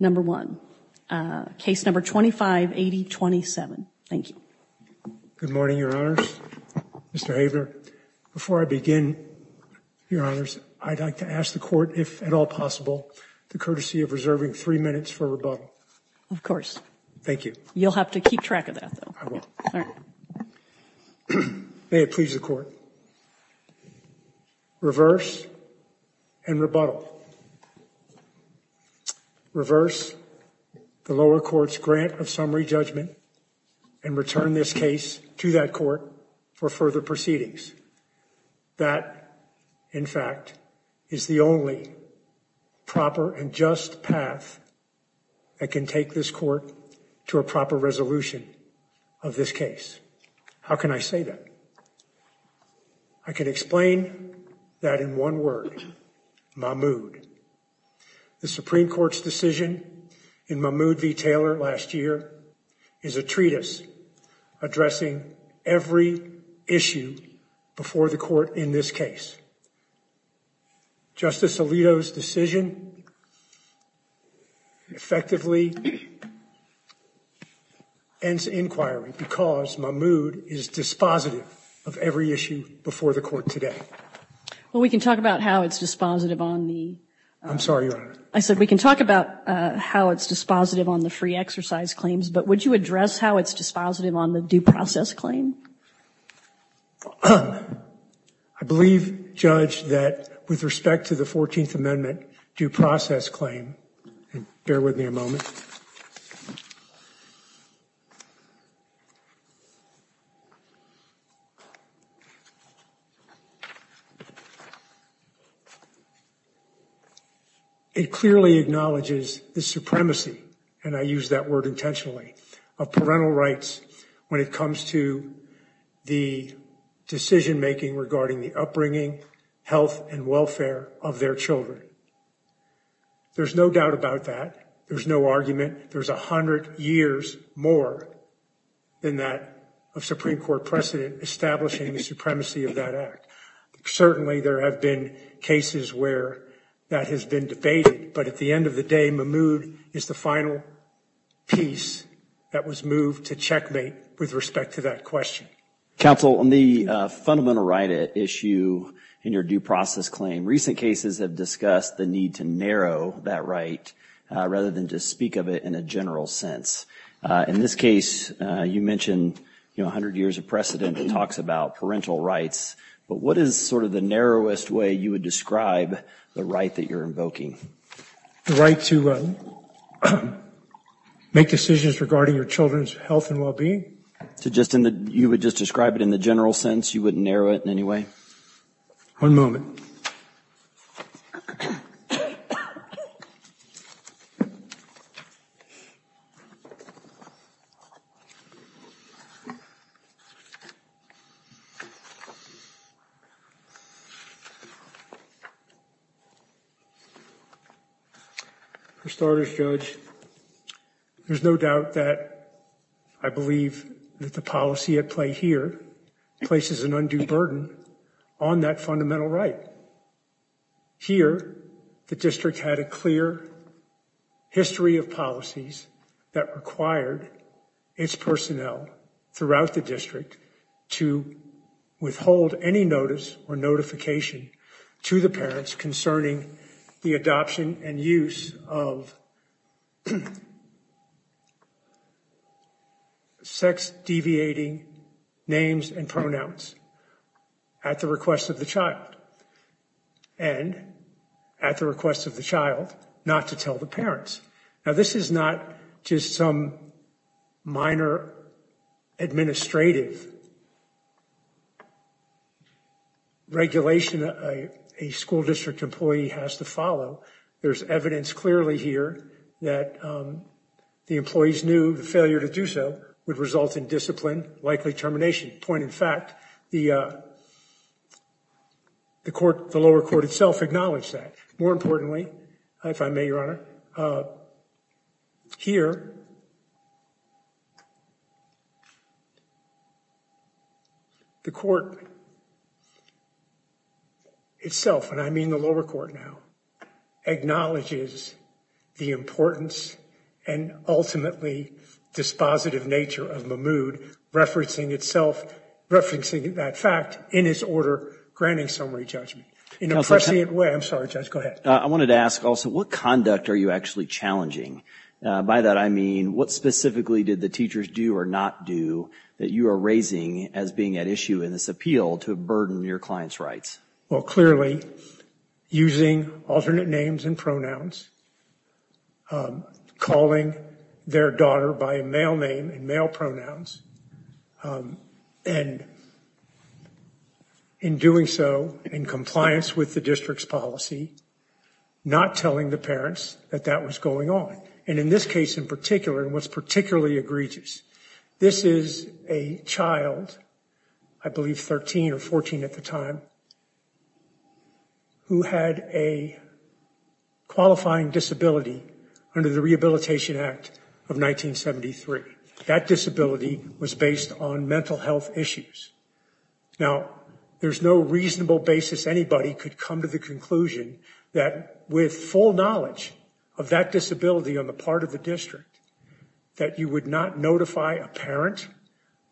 Number 1, Case Number 2580-27 Thank you. Good morning, Your Honors. Mr. Havener, before I begin, Your Honors, I'd like to ask the Court, if at all possible, the courtesy of reserving three minutes for rebuttal. Of course. Thank you. You'll have to keep track of that, though. I will. All right. May it please the Court. Reverse and rebuttal. Reverse the lower court's grant of summary judgment and return this case to that court for further proceedings. That, in fact, is the only proper and just path that can take this court to a proper resolution of this case. How can I say that? I can explain that in one word, Mahmoud. The Supreme Court's decision in Mahmoud v. Taylor last year is a treatise addressing every issue before the court in this case. Justice Alito's decision effectively ends inquiry because Mahmoud is dispositive of every issue before the court today. Well, we can talk about how it's dispositive on the- I'm sorry, Your Honor. I said we can talk about how it's dispositive on the free exercise claims, but would you address how it's dispositive on the due process claim? I believe, Judge, that with respect to the 14th Amendment due process claim, bear with me a moment. It clearly acknowledges the supremacy, and I use that word intentionally, of parental rights when it comes to the decision-making regarding the upbringing, health, and welfare of their children. There's no doubt about that. There's no argument. There's a hundred years more than that of Supreme Court precedent establishing the supremacy of that act. Certainly, there have been cases where that has been debated, but at the end of the day, Mahmoud is the final piece that was moved to checkmate with respect to that question. Counsel, on the fundamental right issue in your due process claim, recent cases have discussed the need to narrow that right rather than just speak of it in a general sense. In this case, you mentioned, you know, a hundred years of precedent that talks about parental rights, but what is sort of the narrowest way you would describe the right that you're invoking? The right to make decisions regarding your children's health and well-being? You would just describe it in the general sense? You wouldn't narrow it in any way? One moment. For starters, Judge, there's no doubt that I believe that the policy at play here places an undue burden on that fundamental right. Here, the district had a clear history of policies that required its personnel throughout the district to withhold any notice or notification to the parents concerning the adoption and use of the child, sex-deviating names and pronouns at the request of the child, and at the request of the child not to tell the parents. Now, this is not just some minor administrative regulation a school district employee has to follow. There's evidence clearly here that the employees knew the failure to do so would result in discipline, likely termination. Point in fact, the lower court itself acknowledged that. More importantly, if I may, Your Honor, here, the court itself, and I mean the lower court now, acknowledges the importance and ultimately dispositive nature of Mahmoud referencing itself, referencing that fact in his order granting summary judgment. In a prescient way, I'm sorry, Judge, go ahead. I wanted to ask also, what conduct are you actually challenging? By that I mean, what specifically did the teachers do or not do that you are raising as being at issue in this appeal to burden your client's rights? Well, clearly, using alternate names and pronouns, calling their daughter by a male name and male pronouns, and in doing so, in compliance with the district's policy, not telling the parents that that was going on. And in this case in particular, and what's particularly egregious, this is a child, I believe 13 or 14 at the time, who had a qualifying disability under the Rehabilitation Act of 1973. That disability was based on mental health issues. Now, there's no reasonable basis anybody could come to the conclusion that with full knowledge of that disability on the part of the district, that you would not notify a parent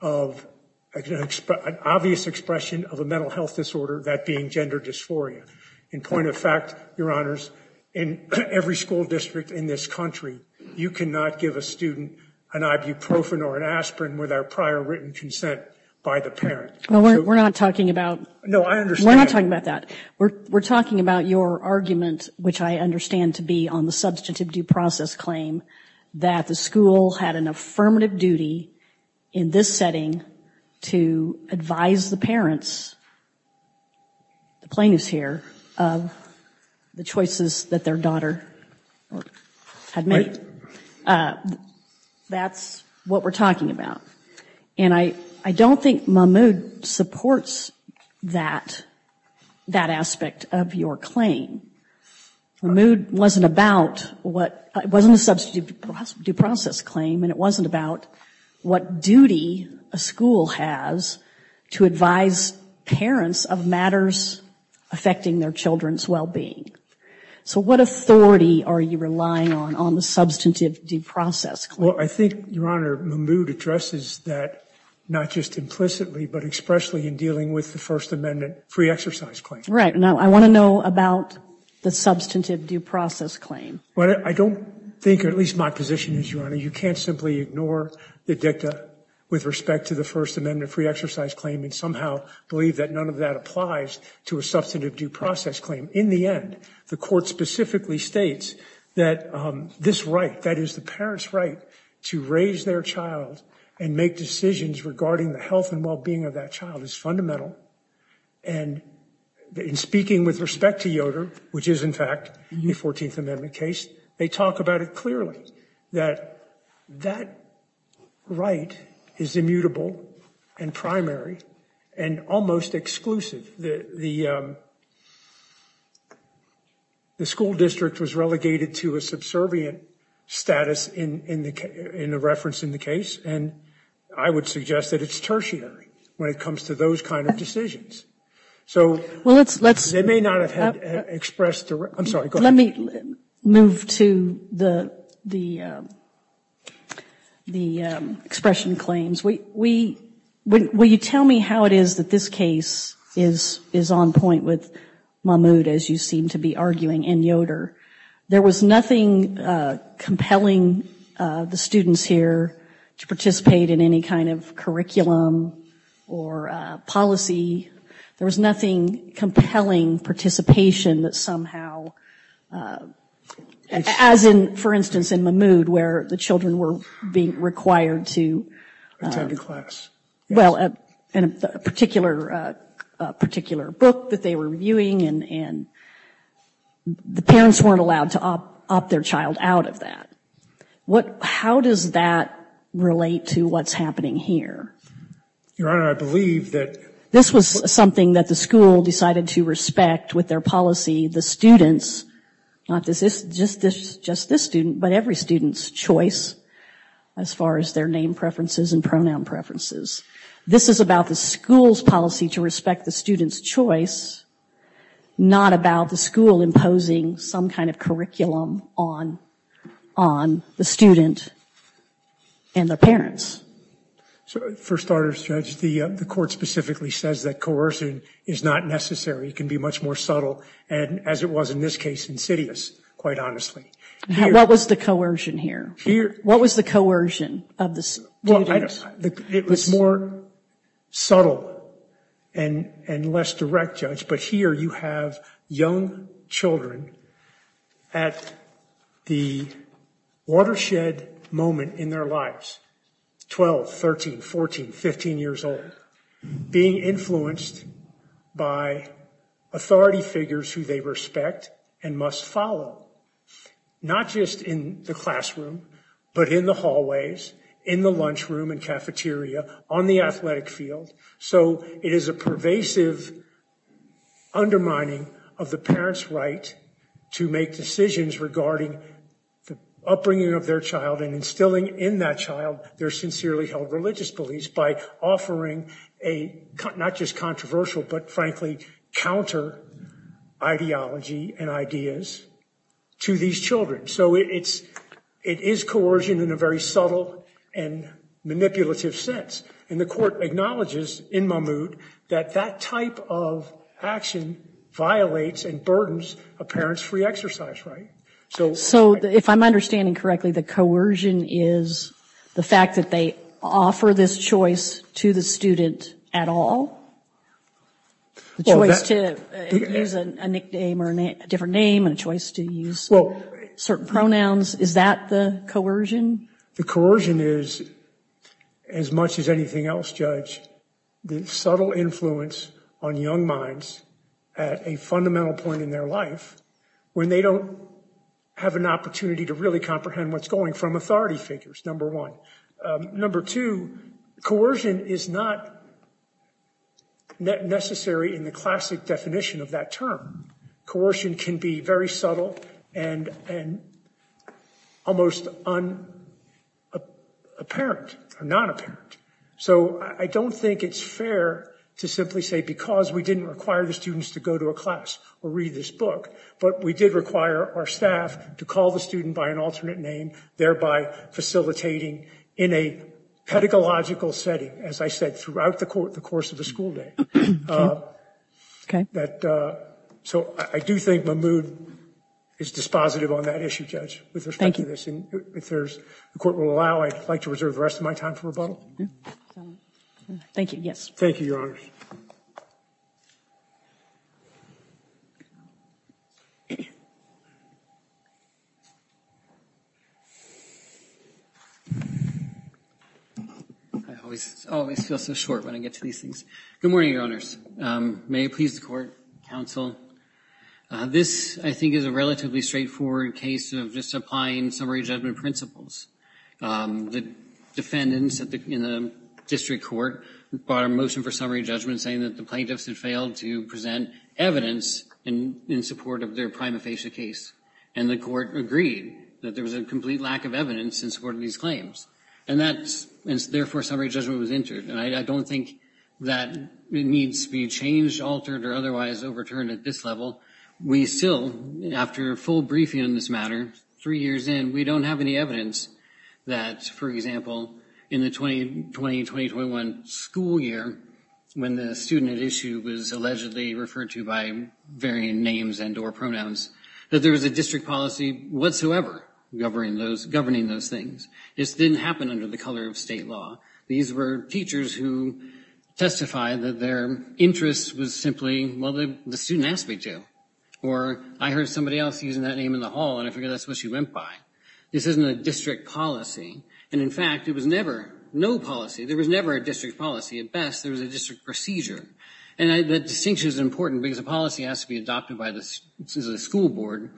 of an obvious expression of a mental health disorder, that being gender dysphoria. In point of fact, your honors, in every school district in this country, you cannot give a student an ibuprofen or an aspirin with our prior written consent by the parent. We're not talking about that. We're talking about your argument, which I understand to be on the substantive due process claim, that the school had an affirmative duty in this setting to advise the parents, the plaintiffs here, of the choices that their daughter had made. That's what we're talking about. And I don't think Mahmoud supports that aspect of your claim. Mahmoud wasn't about what, it wasn't a substantive due process claim, and it wasn't about what duty a school has to advise parents of matters affecting their children's well-being. So what authority are you relying on, on the substantive due process claim? Well, I think, your honor, Mahmoud addresses that, not just implicitly, but expressly in dealing with the First Amendment free exercise claim. Right. Now, I want to know about the substantive due process claim. Well, I don't think, or at least my position is, your honor, you can't simply ignore the dicta with respect to the First Amendment free exercise claim and somehow believe that none of that applies to a substantive due process claim. In the end, the court specifically states that this right, that is the parent's right to raise their child and make decisions regarding the health and well-being of that child, is fundamental. And in speaking with respect to Yoder, which is, in fact, a 14th Amendment case, they talk about it clearly, that that right is immutable and primary and almost exclusive. The school district was relegated to a subservient status in the reference in the case, and I would suggest that it's tertiary when it comes to those kind of decisions. So, they may not have expressed, I'm sorry, go ahead. Let me move to the expression claims. Will you tell me how it is that this case is on point with Mahmoud, as you seem to be arguing, and Yoder? There was nothing compelling the students here to participate in any kind of curriculum or policy. There was nothing compelling participation that somehow, as in, for instance, in Mahmoud, where the children were being required to attend a class. Well, in a particular book that they were viewing, and the parents weren't allowed to opt their child out of that. How does that relate to what's happening here? Your Honor, I believe that... This was something that the school decided to respect with their policy, the students, not just this student, but every student's choice, as far as their name preferences and pronoun preferences. This is about the school's policy to respect the student's choice, not about the school imposing some kind of curriculum on the student and their parents. For starters, Judge, the court specifically says that coercion is not necessary. It can be much more subtle, and as it was in this case, insidious, quite honestly. What was the coercion here? What was the coercion of the students? It was more subtle and less direct, Judge, but here you have young children at the watershed moment in their lives, 12, 13, 14, 15 years old, being influenced by authority figures who they respect and must follow, not just in the classroom, but in the hallways, in the lunchroom and cafeteria, on the athletic field. So it is a pervasive undermining of the parents' right to make decisions regarding the upbringing of their child and instilling in that child their sincerely held religious beliefs by offering a, not just controversial, but frankly, counter ideology and ideas to these children. So it is coercion in a very subtle and manipulative sense. And the court acknowledges in Mahmoud that that type of action violates and burdens a parent's free exercise, right? So if I'm understanding correctly, the coercion is the fact that they offer this choice to the student at all? The choice to use a nickname or a different name and a choice to use certain pronouns, is that the coercion? The coercion is, as much as anything else, Judge, the subtle influence on young minds at a fundamental point in their life when they don't have an opportunity to really comprehend what's going from authority figures, number one. Number two, coercion is not necessary in the classic definition of that term. Coercion can be very subtle and almost unapparent or non-apparent. So I don't think it's fair to simply say because we didn't require the students to go to a class or read this book, but we did require our staff to call the student by an alternate name, thereby facilitating in a pedagogical setting, as I said, throughout the course of the school day. So I do think Mahmoud is dispositive on that issue, Judge, with respect to this. And if the court will allow, I'd like to reserve the rest of my time for rebuttal. Thank you, yes. Thank you, Your Honors. I always feel so short when I get to these things. Good morning, Your Honors. May it please the court, counsel. This, I think, is a relatively straightforward case of just applying summary judgment principles. The defendants in the district court brought a motion for summary judgment saying that the plaintiffs had failed to present evidence in support of their prima facie case. And the court agreed that there was a complete lack of evidence in support of these claims. And therefore, summary judgment was entered. And I don't think that needs to be changed, altered, or otherwise overturned at this level. We still, after a full briefing on this matter three years in, we don't have any evidence that, for example, in the 2020-2021 school year, when the student at issue was allegedly referred to by varying names and or pronouns, that there was a district policy whatsoever governing those things. This didn't happen under the color of state law. These were teachers who testified that their interest was simply, well, the student asked me to. Or I heard somebody else using that name in the hall, and I figured that's what she went by. This isn't a district policy. And in fact, it was never no policy. There was never a district policy at best. There was a district procedure. And that distinction is important because a policy has to be adopted by the school board.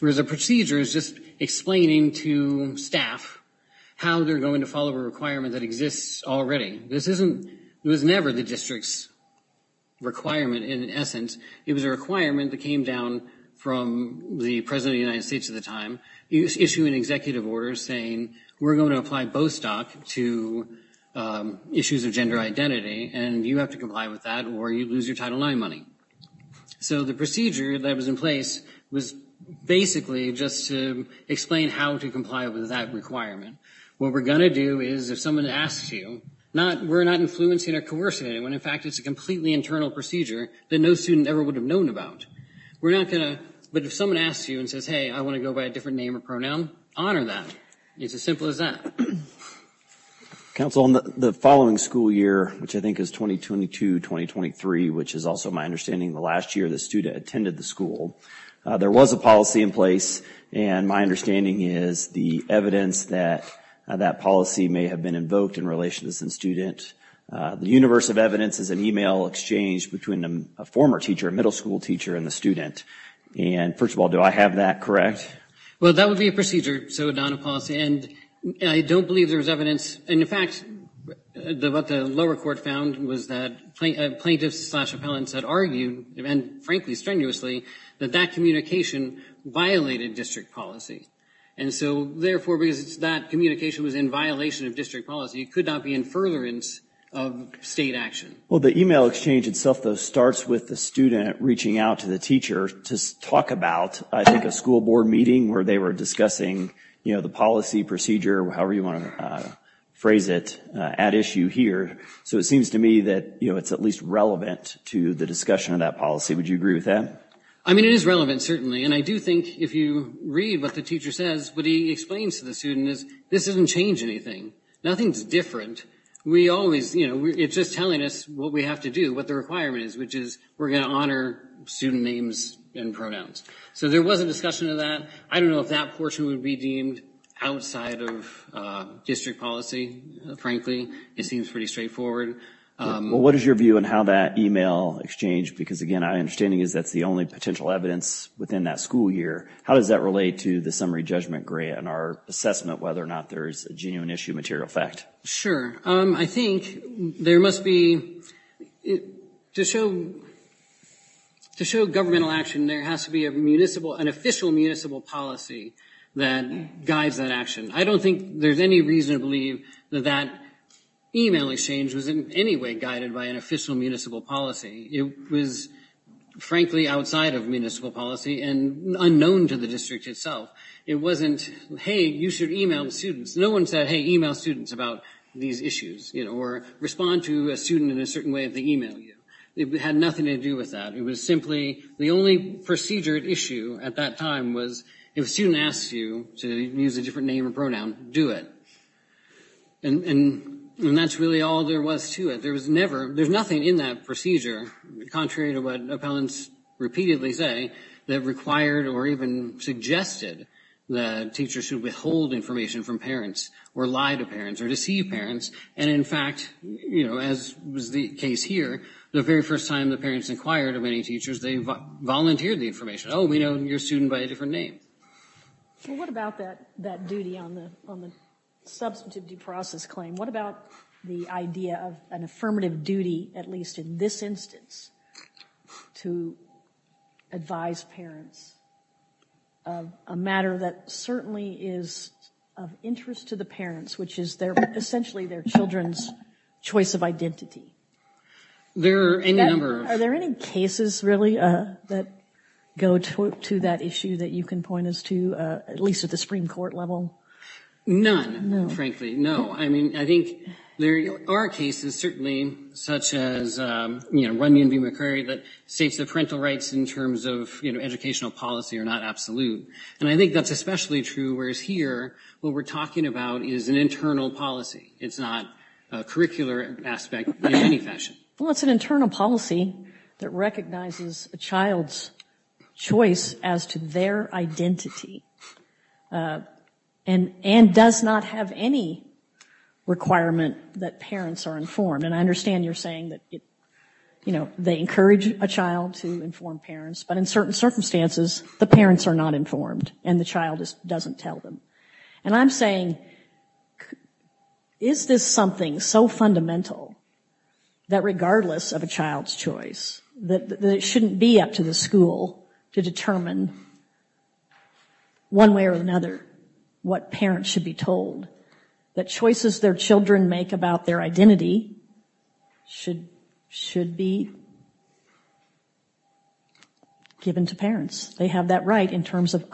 Whereas a procedure is just explaining to staff how they're going to follow a requirement that exists already. This isn't, it was never the district's requirement in essence. It was a requirement that came down from the President of the United States at the time. Issuing executive orders saying we're going to apply Bostock to issues of gender identity, and you have to comply with that or you lose your Title IX money. So the procedure that was in place was basically just to explain how to comply with that requirement. What we're going to do is if someone asks you, we're not influencing or coercing anyone. In fact, it's a completely internal procedure that no student ever would have known about. We're not going to, but if someone asks you and says, hey, I want to go by a different name or pronoun, honor that. It's as simple as that. Council, in the following school year, which I think is 2022-2023, which is also my understanding the last year the student attended the school, there was a policy in place and my understanding is the evidence that that policy may have been invoked in relation to this student. The universe of evidence is an email exchange between a former teacher, a middle school teacher, and the student. And first of all, do I have that correct? Well, that would be a procedure, so not a policy, and I don't believe there was evidence. And in fact, what the lower court found was that plaintiffs slash appellants had argued, and frankly, strenuously, that that communication violated district policy. And so therefore, because that communication was in violation of district policy, it could not be in furtherance of state action. Well, the email exchange itself, though, starts with the student reaching out to the teacher to talk about, I think, a school board meeting where they were discussing the policy procedure, however you want to phrase it, at issue here. So it seems to me that it's at least relevant to the discussion of that policy. Would you agree with that? I mean, it is relevant, certainly, and I do think if you read what the teacher says, what he explains to the student is this doesn't change anything. Nothing's different. We always, you know, it's just telling us what we have to do, what the requirement is, which is we're going to honor student names and pronouns. So there was a discussion of that. I don't know if that portion would be deemed outside of district policy, frankly. It seems pretty straightforward. Well, what is your view on how that email exchange, because, again, my understanding is that's the only potential evidence within that school year. How does that relate to the summary judgment grant and our assessment whether or not there's a genuine issue material effect? Sure. I think there must be, to show governmental action, there has to be an official municipal policy that guides that action. I don't think there's any reason to believe that that email exchange was in any way guided by an official municipal policy. It was, frankly, outside of municipal policy and unknown to the district itself. It wasn't, hey, you should email students. No one said, hey, email students about these issues, you know, or respond to a student in a certain way if they email you. It had nothing to do with that. It was simply the only procedure at issue at that time was if a student asked you to use a different name or pronoun, do it. And that's really all there was to it. There was never, there's nothing in that procedure, contrary to what appellants repeatedly say, that required or even suggested that teachers should withhold information from parents or lie to parents or deceive parents. And, in fact, you know, as was the case here, the very first time the parents inquired of any teachers, they volunteered the information. Oh, we know your student by a different name. Well, what about that duty on the substantivity process claim? What about the idea of an affirmative duty, at least in this instance, to advise parents of a matter that certainly is of interest to the parents, which is essentially their children's choice of identity? Are there any cases, really, that go to that issue that you can point us to, at least at the Supreme Court level? None, frankly, no. I mean, I think there are cases, certainly, such as, you know, Runyon v. McCurry, that states that parental rights in terms of, you know, educational policy are not absolute. And I think that's especially true, whereas here, what we're talking about is an internal policy. It's not a curricular aspect in any fashion. Well, it's an internal policy that recognizes a child's choice as to their identity and does not have any requirement that parents are informed. And I understand you're saying that, you know, they encourage a child to inform parents, but in certain circumstances, the parents are not informed and the child doesn't tell them. And I'm saying, is this something so fundamental that regardless of a child's choice, that it shouldn't be up to the school to determine one way or another what parents should be told, that choices their children make about their identity should be given to parents? They have that right in terms of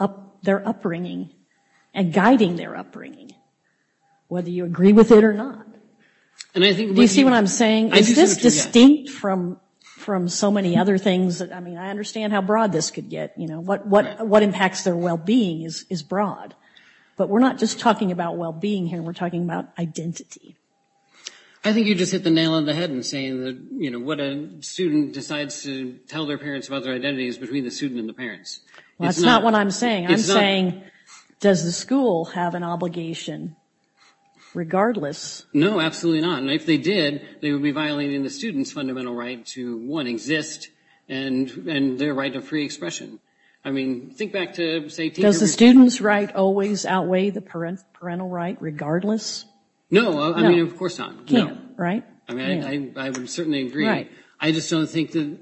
their upbringing and guiding their upbringing, whether you agree with it or not. Do you see what I'm saying? Is this distinct from so many other things? I mean, I understand how broad this could get, you know. What impacts their well-being is broad. But we're not just talking about well-being here. We're talking about identity. I think you just hit the nail on the head in saying that, you know, what a student decides to tell their parents about their identity is between the student and the parents. That's not what I'm saying. I'm saying, does the school have an obligation regardless? No, absolutely not. And if they did, they would be violating the student's fundamental right to, one, exist and their right to free expression. I mean, think back to, say, teenagers. Does the student's right always outweigh the parental right regardless? No, I mean, of course not. No. Right? Right. I mean, I would certainly agree. I just don't think that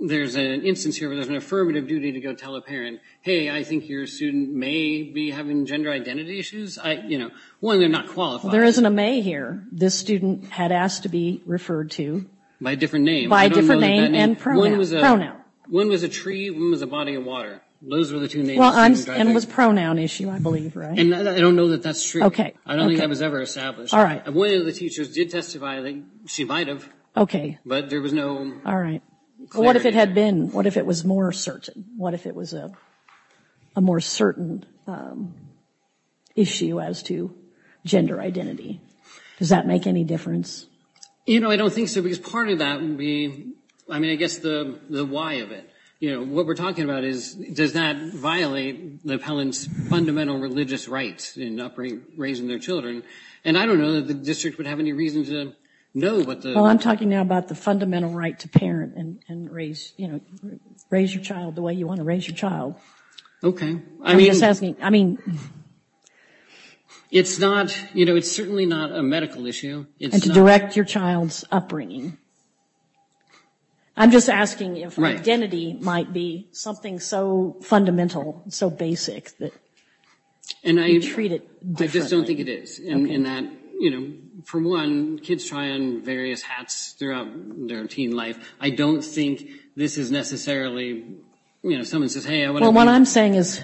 there's an instance here where there's an affirmative duty to go tell a parent, hey, I think your student may be having gender identity issues. One, they're not qualified. There isn't a may here. This student had asked to be referred to. By a different name. By a different name and pronoun. Pronoun. One was a tree. One was a body of water. Those were the two names. And it was a pronoun issue, I believe, right? I don't know that that's true. Okay. I don't think that was ever established. All right. One of the teachers did testify. She might have. But there was no clarity. All right. What if it had been? What if it was more certain? What if it was a more certain issue as to gender identity? Does that make any difference? You know, I don't think so. Because part of that would be, I mean, I guess the why of it. You know, what we're talking about is, does that violate the appellant's fundamental religious rights in raising their children? And I don't know that the district would have any reason to know. Well, I'm talking now about the fundamental right to parent and raise your child the way you want to raise your child. Okay. I mean, it's not, you know, it's certainly not a medical issue. And to direct your child's upbringing. I'm just asking if identity might be something so fundamental, so basic, that you treat it differently. I just don't think it is. In that, you know, for one, kids try on various hats throughout their teen life. I don't think this is necessarily, you know, if someone says, hey, I want to be a parent. Well, what I'm saying is,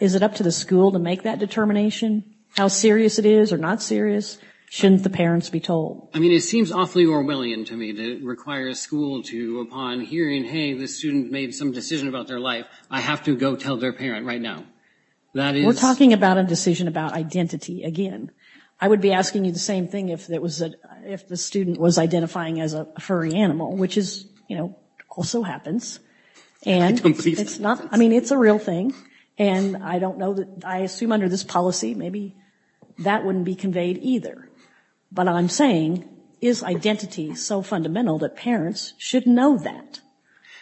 is it up to the school to make that determination? How serious it is or not serious? Shouldn't the parents be told? I mean, it seems awfully Orwellian to me to require a school to, upon hearing, hey, this student made some decision about their life, I have to go tell their parent right now. We're talking about a decision about identity again. I would be asking you the same thing if the student was identifying as a furry animal, which is, you know, also happens. I mean, it's a real thing. And I don't know, I assume under this policy, maybe that wouldn't be conveyed either. But I'm saying, is identity so fundamental that parents should know that?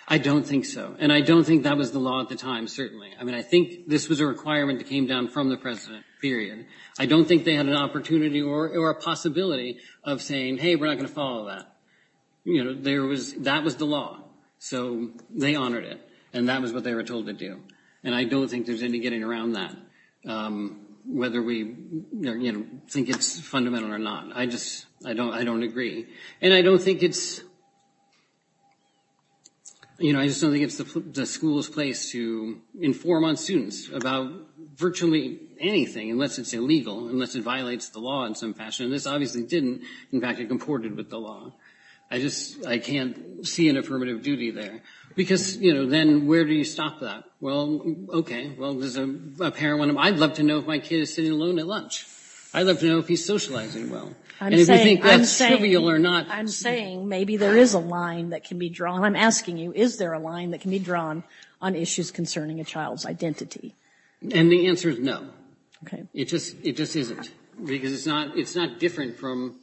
I don't think so. And I don't think that was the law at the time, certainly. I mean, I think this was a requirement that came down from the president, period. I don't think they had an opportunity or a possibility of saying, hey, we're not going to follow that. You know, that was the law. So they honored it. And that was what they were told to do. And I don't think there's any getting around that, whether we, you know, think it's fundamental or not. I just, I don't agree. And I don't think it's, you know, I just don't think it's the school's place to inform on students about virtually anything, unless it's illegal, unless it violates the law in some fashion. And this obviously didn't. In fact, it comported with the law. I just, I can't see an affirmative duty there. Because, you know, then where do you stop that? Well, okay, well, there's a parent. I'd love to know if my kid is sitting alone at lunch. I'd love to know if he's socializing well. And if you think that's trivial or not. I'm saying maybe there is a line that can be drawn. I'm asking you, is there a line that can be drawn on issues concerning a child's identity? And the answer is no. Okay. It just isn't. Because it's not different from,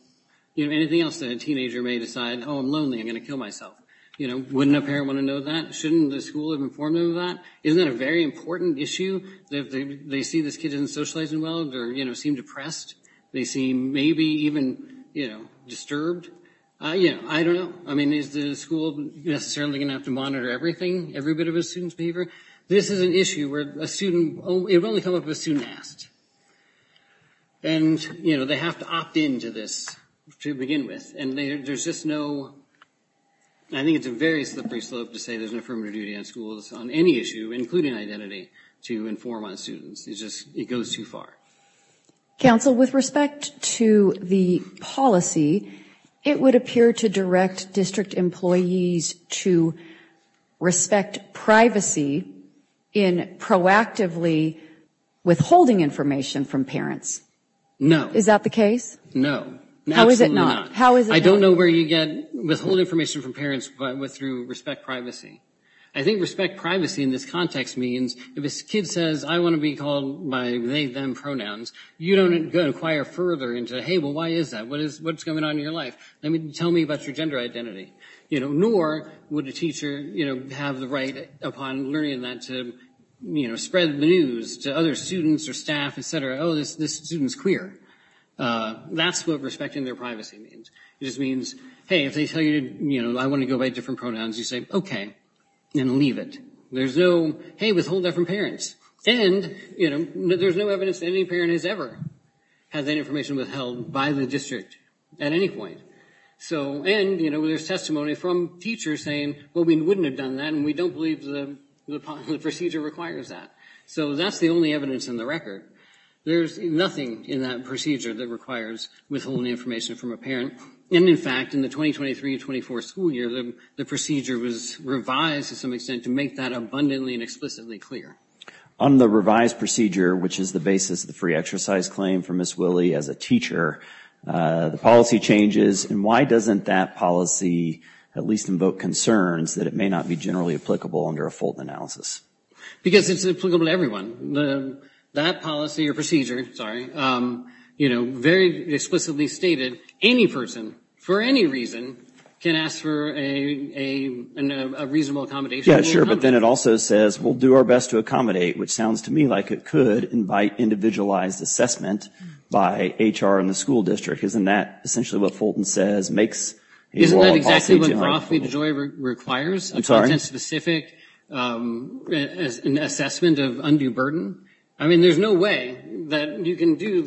you know, anything else that a teenager may decide, oh, I'm lonely, I'm going to kill myself. You know, wouldn't a parent want to know that? Shouldn't the school have informed them of that? Isn't that a very important issue? They see this kid isn't socializing well. They're, you know, seem depressed. They seem maybe even, you know, disturbed. You know, I don't know. I mean, is the school necessarily going to have to monitor everything, every bit of a student's behavior? This is an issue where a student, it would only come up if a student asked. And, you know, they have to opt in to this to begin with. And there's just no, I think it's a very slippery slope to say there's an affirmative duty on schools on any issue, including identity, to inform on students. It just, it goes too far. Counsel, with respect to the policy, it would appear to direct district employees to respect privacy in proactively withholding information from parents. No. Is that the case? No. How is it not? How is it not? I don't know where you get withhold information from parents, but with respect to privacy. I think respect privacy in this context means if a kid says, I want to be called by they, them pronouns, you don't inquire further into, hey, well, why is that? What is, what's going on in your life? I mean, tell me about your gender identity. You know, nor would a teacher, you know, have the right upon learning that to, you know, spread the news to other students or staff, et cetera. Oh, this student's queer. That's what respecting their privacy means. It just means, hey, if they tell you, you know, I want to go by different pronouns, you say, okay, and leave it. There's no, hey, withhold that from parents. And, you know, there's no evidence that any parent has ever had that information withheld by the district at any point. So, and, you know, there's testimony from teachers saying, well, we wouldn't have done that, and we don't believe the procedure requires that. So that's the only evidence in the record. There's nothing in that procedure that requires withholding information from a parent. And, in fact, in the 2023-24 school year, the procedure was revised to some extent to make that abundantly and explicitly clear. On the revised procedure, which is the basis of the free exercise claim for Ms. Willey as a teacher, the policy changes. And why doesn't that policy at least invoke concerns that it may not be generally applicable under a Fulton analysis? Because it's applicable to everyone. That policy or procedure, sorry, you know, very explicitly stated, any person, for any reason, can ask for a reasonable accommodation. Yeah, sure. But then it also says we'll do our best to accommodate, which sounds to me like it could invite individualized assessment by HR and the school district. Isn't that essentially what Fulton says makes law and policy? I'm sorry? A content-specific assessment of undue burden? I mean, there's no way that you can do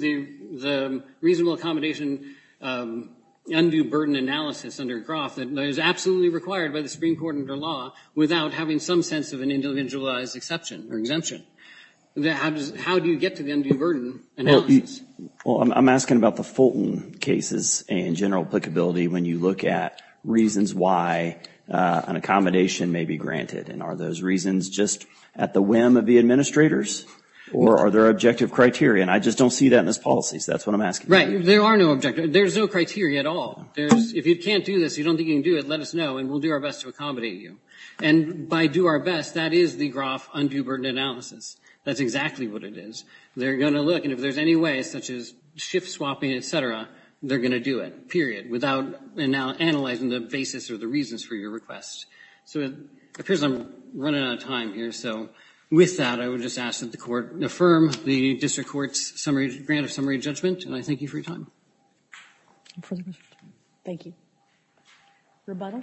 the reasonable accommodation undue burden analysis under Groff that is absolutely required by the Supreme Court under law without having some sense of an individualized exception or exemption. How do you get to the undue burden analysis? Well, I'm asking about the Fulton cases and general applicability when you look at reasons why an accommodation may be granted. And are those reasons just at the whim of the administrators? Or are there objective criteria? And I just don't see that in this policy. So that's what I'm asking. Right. There are no objectives. There's no criteria at all. If you can't do this, you don't think you can do it, let us know, and we'll do our best to accommodate you. And by do our best, that is the Groff undue burden analysis. That's exactly what it is. They're going to look. And if there's any way, such as shift swapping, et cetera, they're going to do it, period, without analyzing the basis or the reasons for your request. So it appears I'm running out of time here. So with that, I would just ask that the court affirm the district court's grant of summary judgment. And I thank you for your time. Thank you. Rebuttal?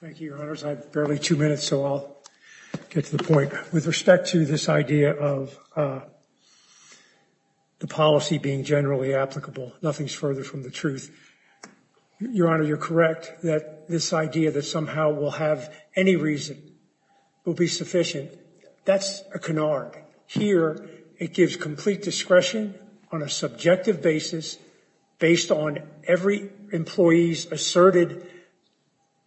Thank you, Your Honors. I have barely two minutes, so I'll get to the point. With respect to this idea of the policy being generally applicable, nothing's further from the truth. Your Honor, you're correct that this idea that somehow we'll have any reason will be sufficient. That's a canard. Here, it gives complete discretion on a subjective basis based on every employee's asserted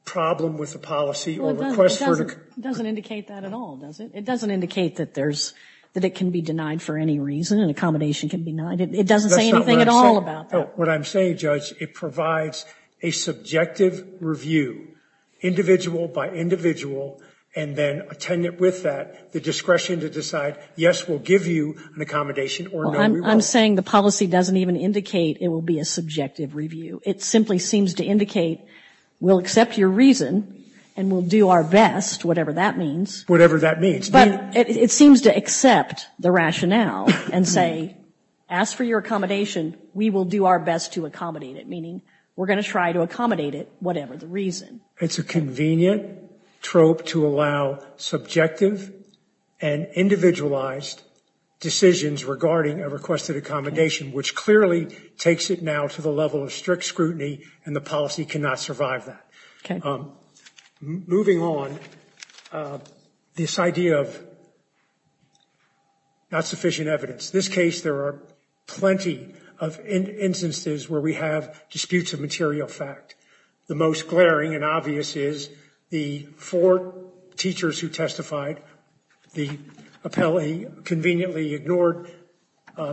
problem with the policy or request for it. It doesn't indicate that at all, does it? It doesn't indicate that it can be denied for any reason, an accommodation can be denied. It doesn't say anything at all about that. What I'm saying, Judge, it provides a subjective review, individual by individual, and then attendant with that, the discretion to decide, yes, we'll give you an accommodation or no, we won't. I'm saying the policy doesn't even indicate it will be a subjective review. It simply seems to indicate we'll accept your reason and we'll do our best, whatever that means. Whatever that means. But it seems to accept the rationale and say, ask for your accommodation, we will do our best to accommodate it, meaning we're going to try to accommodate it, whatever the reason. It's a convenient trope to allow subjective and individualized decisions regarding a requested accommodation, which clearly takes it now to the level of strict scrutiny and the policy cannot survive that. Moving on, this idea of not sufficient evidence. In this case, there are plenty of instances where we have disputes of material fact. The most glaring and obvious is the four teachers who testified. The appellee conveniently ignored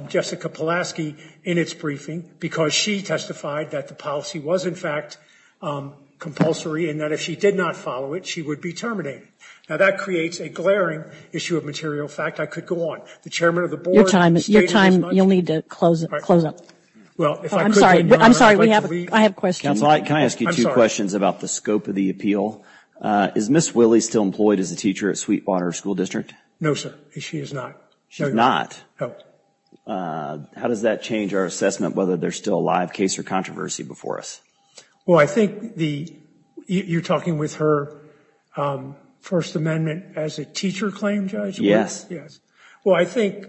Jessica Pulaski in its briefing because she testified that the policy was, in fact, compulsory, and that if she did not follow it, she would be terminated. Now, that creates a glaring issue of material fact. I could go on. The chairman of the board stated as much. Your time, you'll need to close up. I'm sorry, I have a question. Counsel, can I ask you two questions about the scope of the appeal? Is Ms. Willey still employed as a teacher at Sweetwater School District? No, sir, she is not. She's not? No. How does that change our assessment whether there's still a live case or controversy before us? Well, I think you're talking with her First Amendment as a teacher claim, Judge? Yes. Yes. Well, I think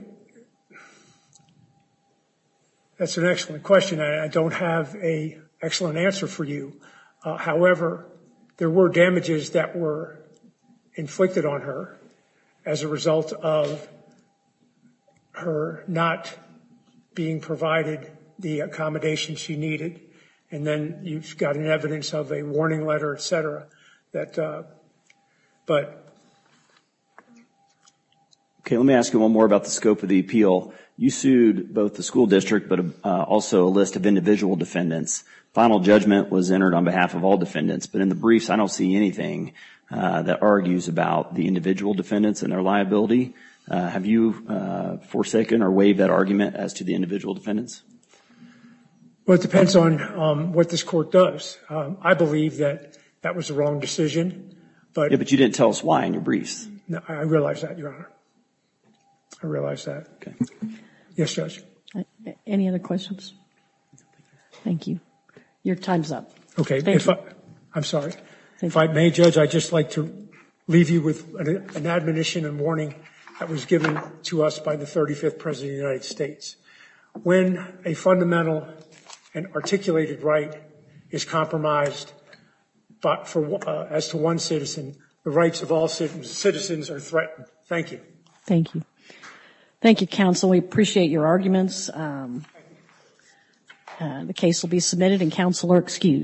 that's an excellent question. I don't have an excellent answer for you. However, there were damages that were inflicted on her as a result of her not being provided the accommodations she needed, and then you've got an evidence of a warning letter, et cetera. Okay, let me ask you one more about the scope of the appeal. You sued both the school district but also a list of individual defendants. Final judgment was entered on behalf of all defendants, but in the briefs I don't see anything that argues about the individual defendants and their liability. Have you forsaken or waived that argument as to the individual defendants? Well, it depends on what this court does. I believe that that was the wrong decision. Yeah, but you didn't tell us why in your briefs. No, I realize that, Your Honor. I realize that. Okay. Yes, Judge? Any other questions? Thank you. Your time's up. Okay, I'm sorry. If I may, Judge, I'd just like to leave you with an admonition and warning that was given to us by the 35th President of the United States. When a fundamental and articulated right is compromised as to one citizen, the rights of all citizens are threatened. Thank you. Thank you. Thank you, counsel. We appreciate your arguments. The case will be submitted and counsel are excused.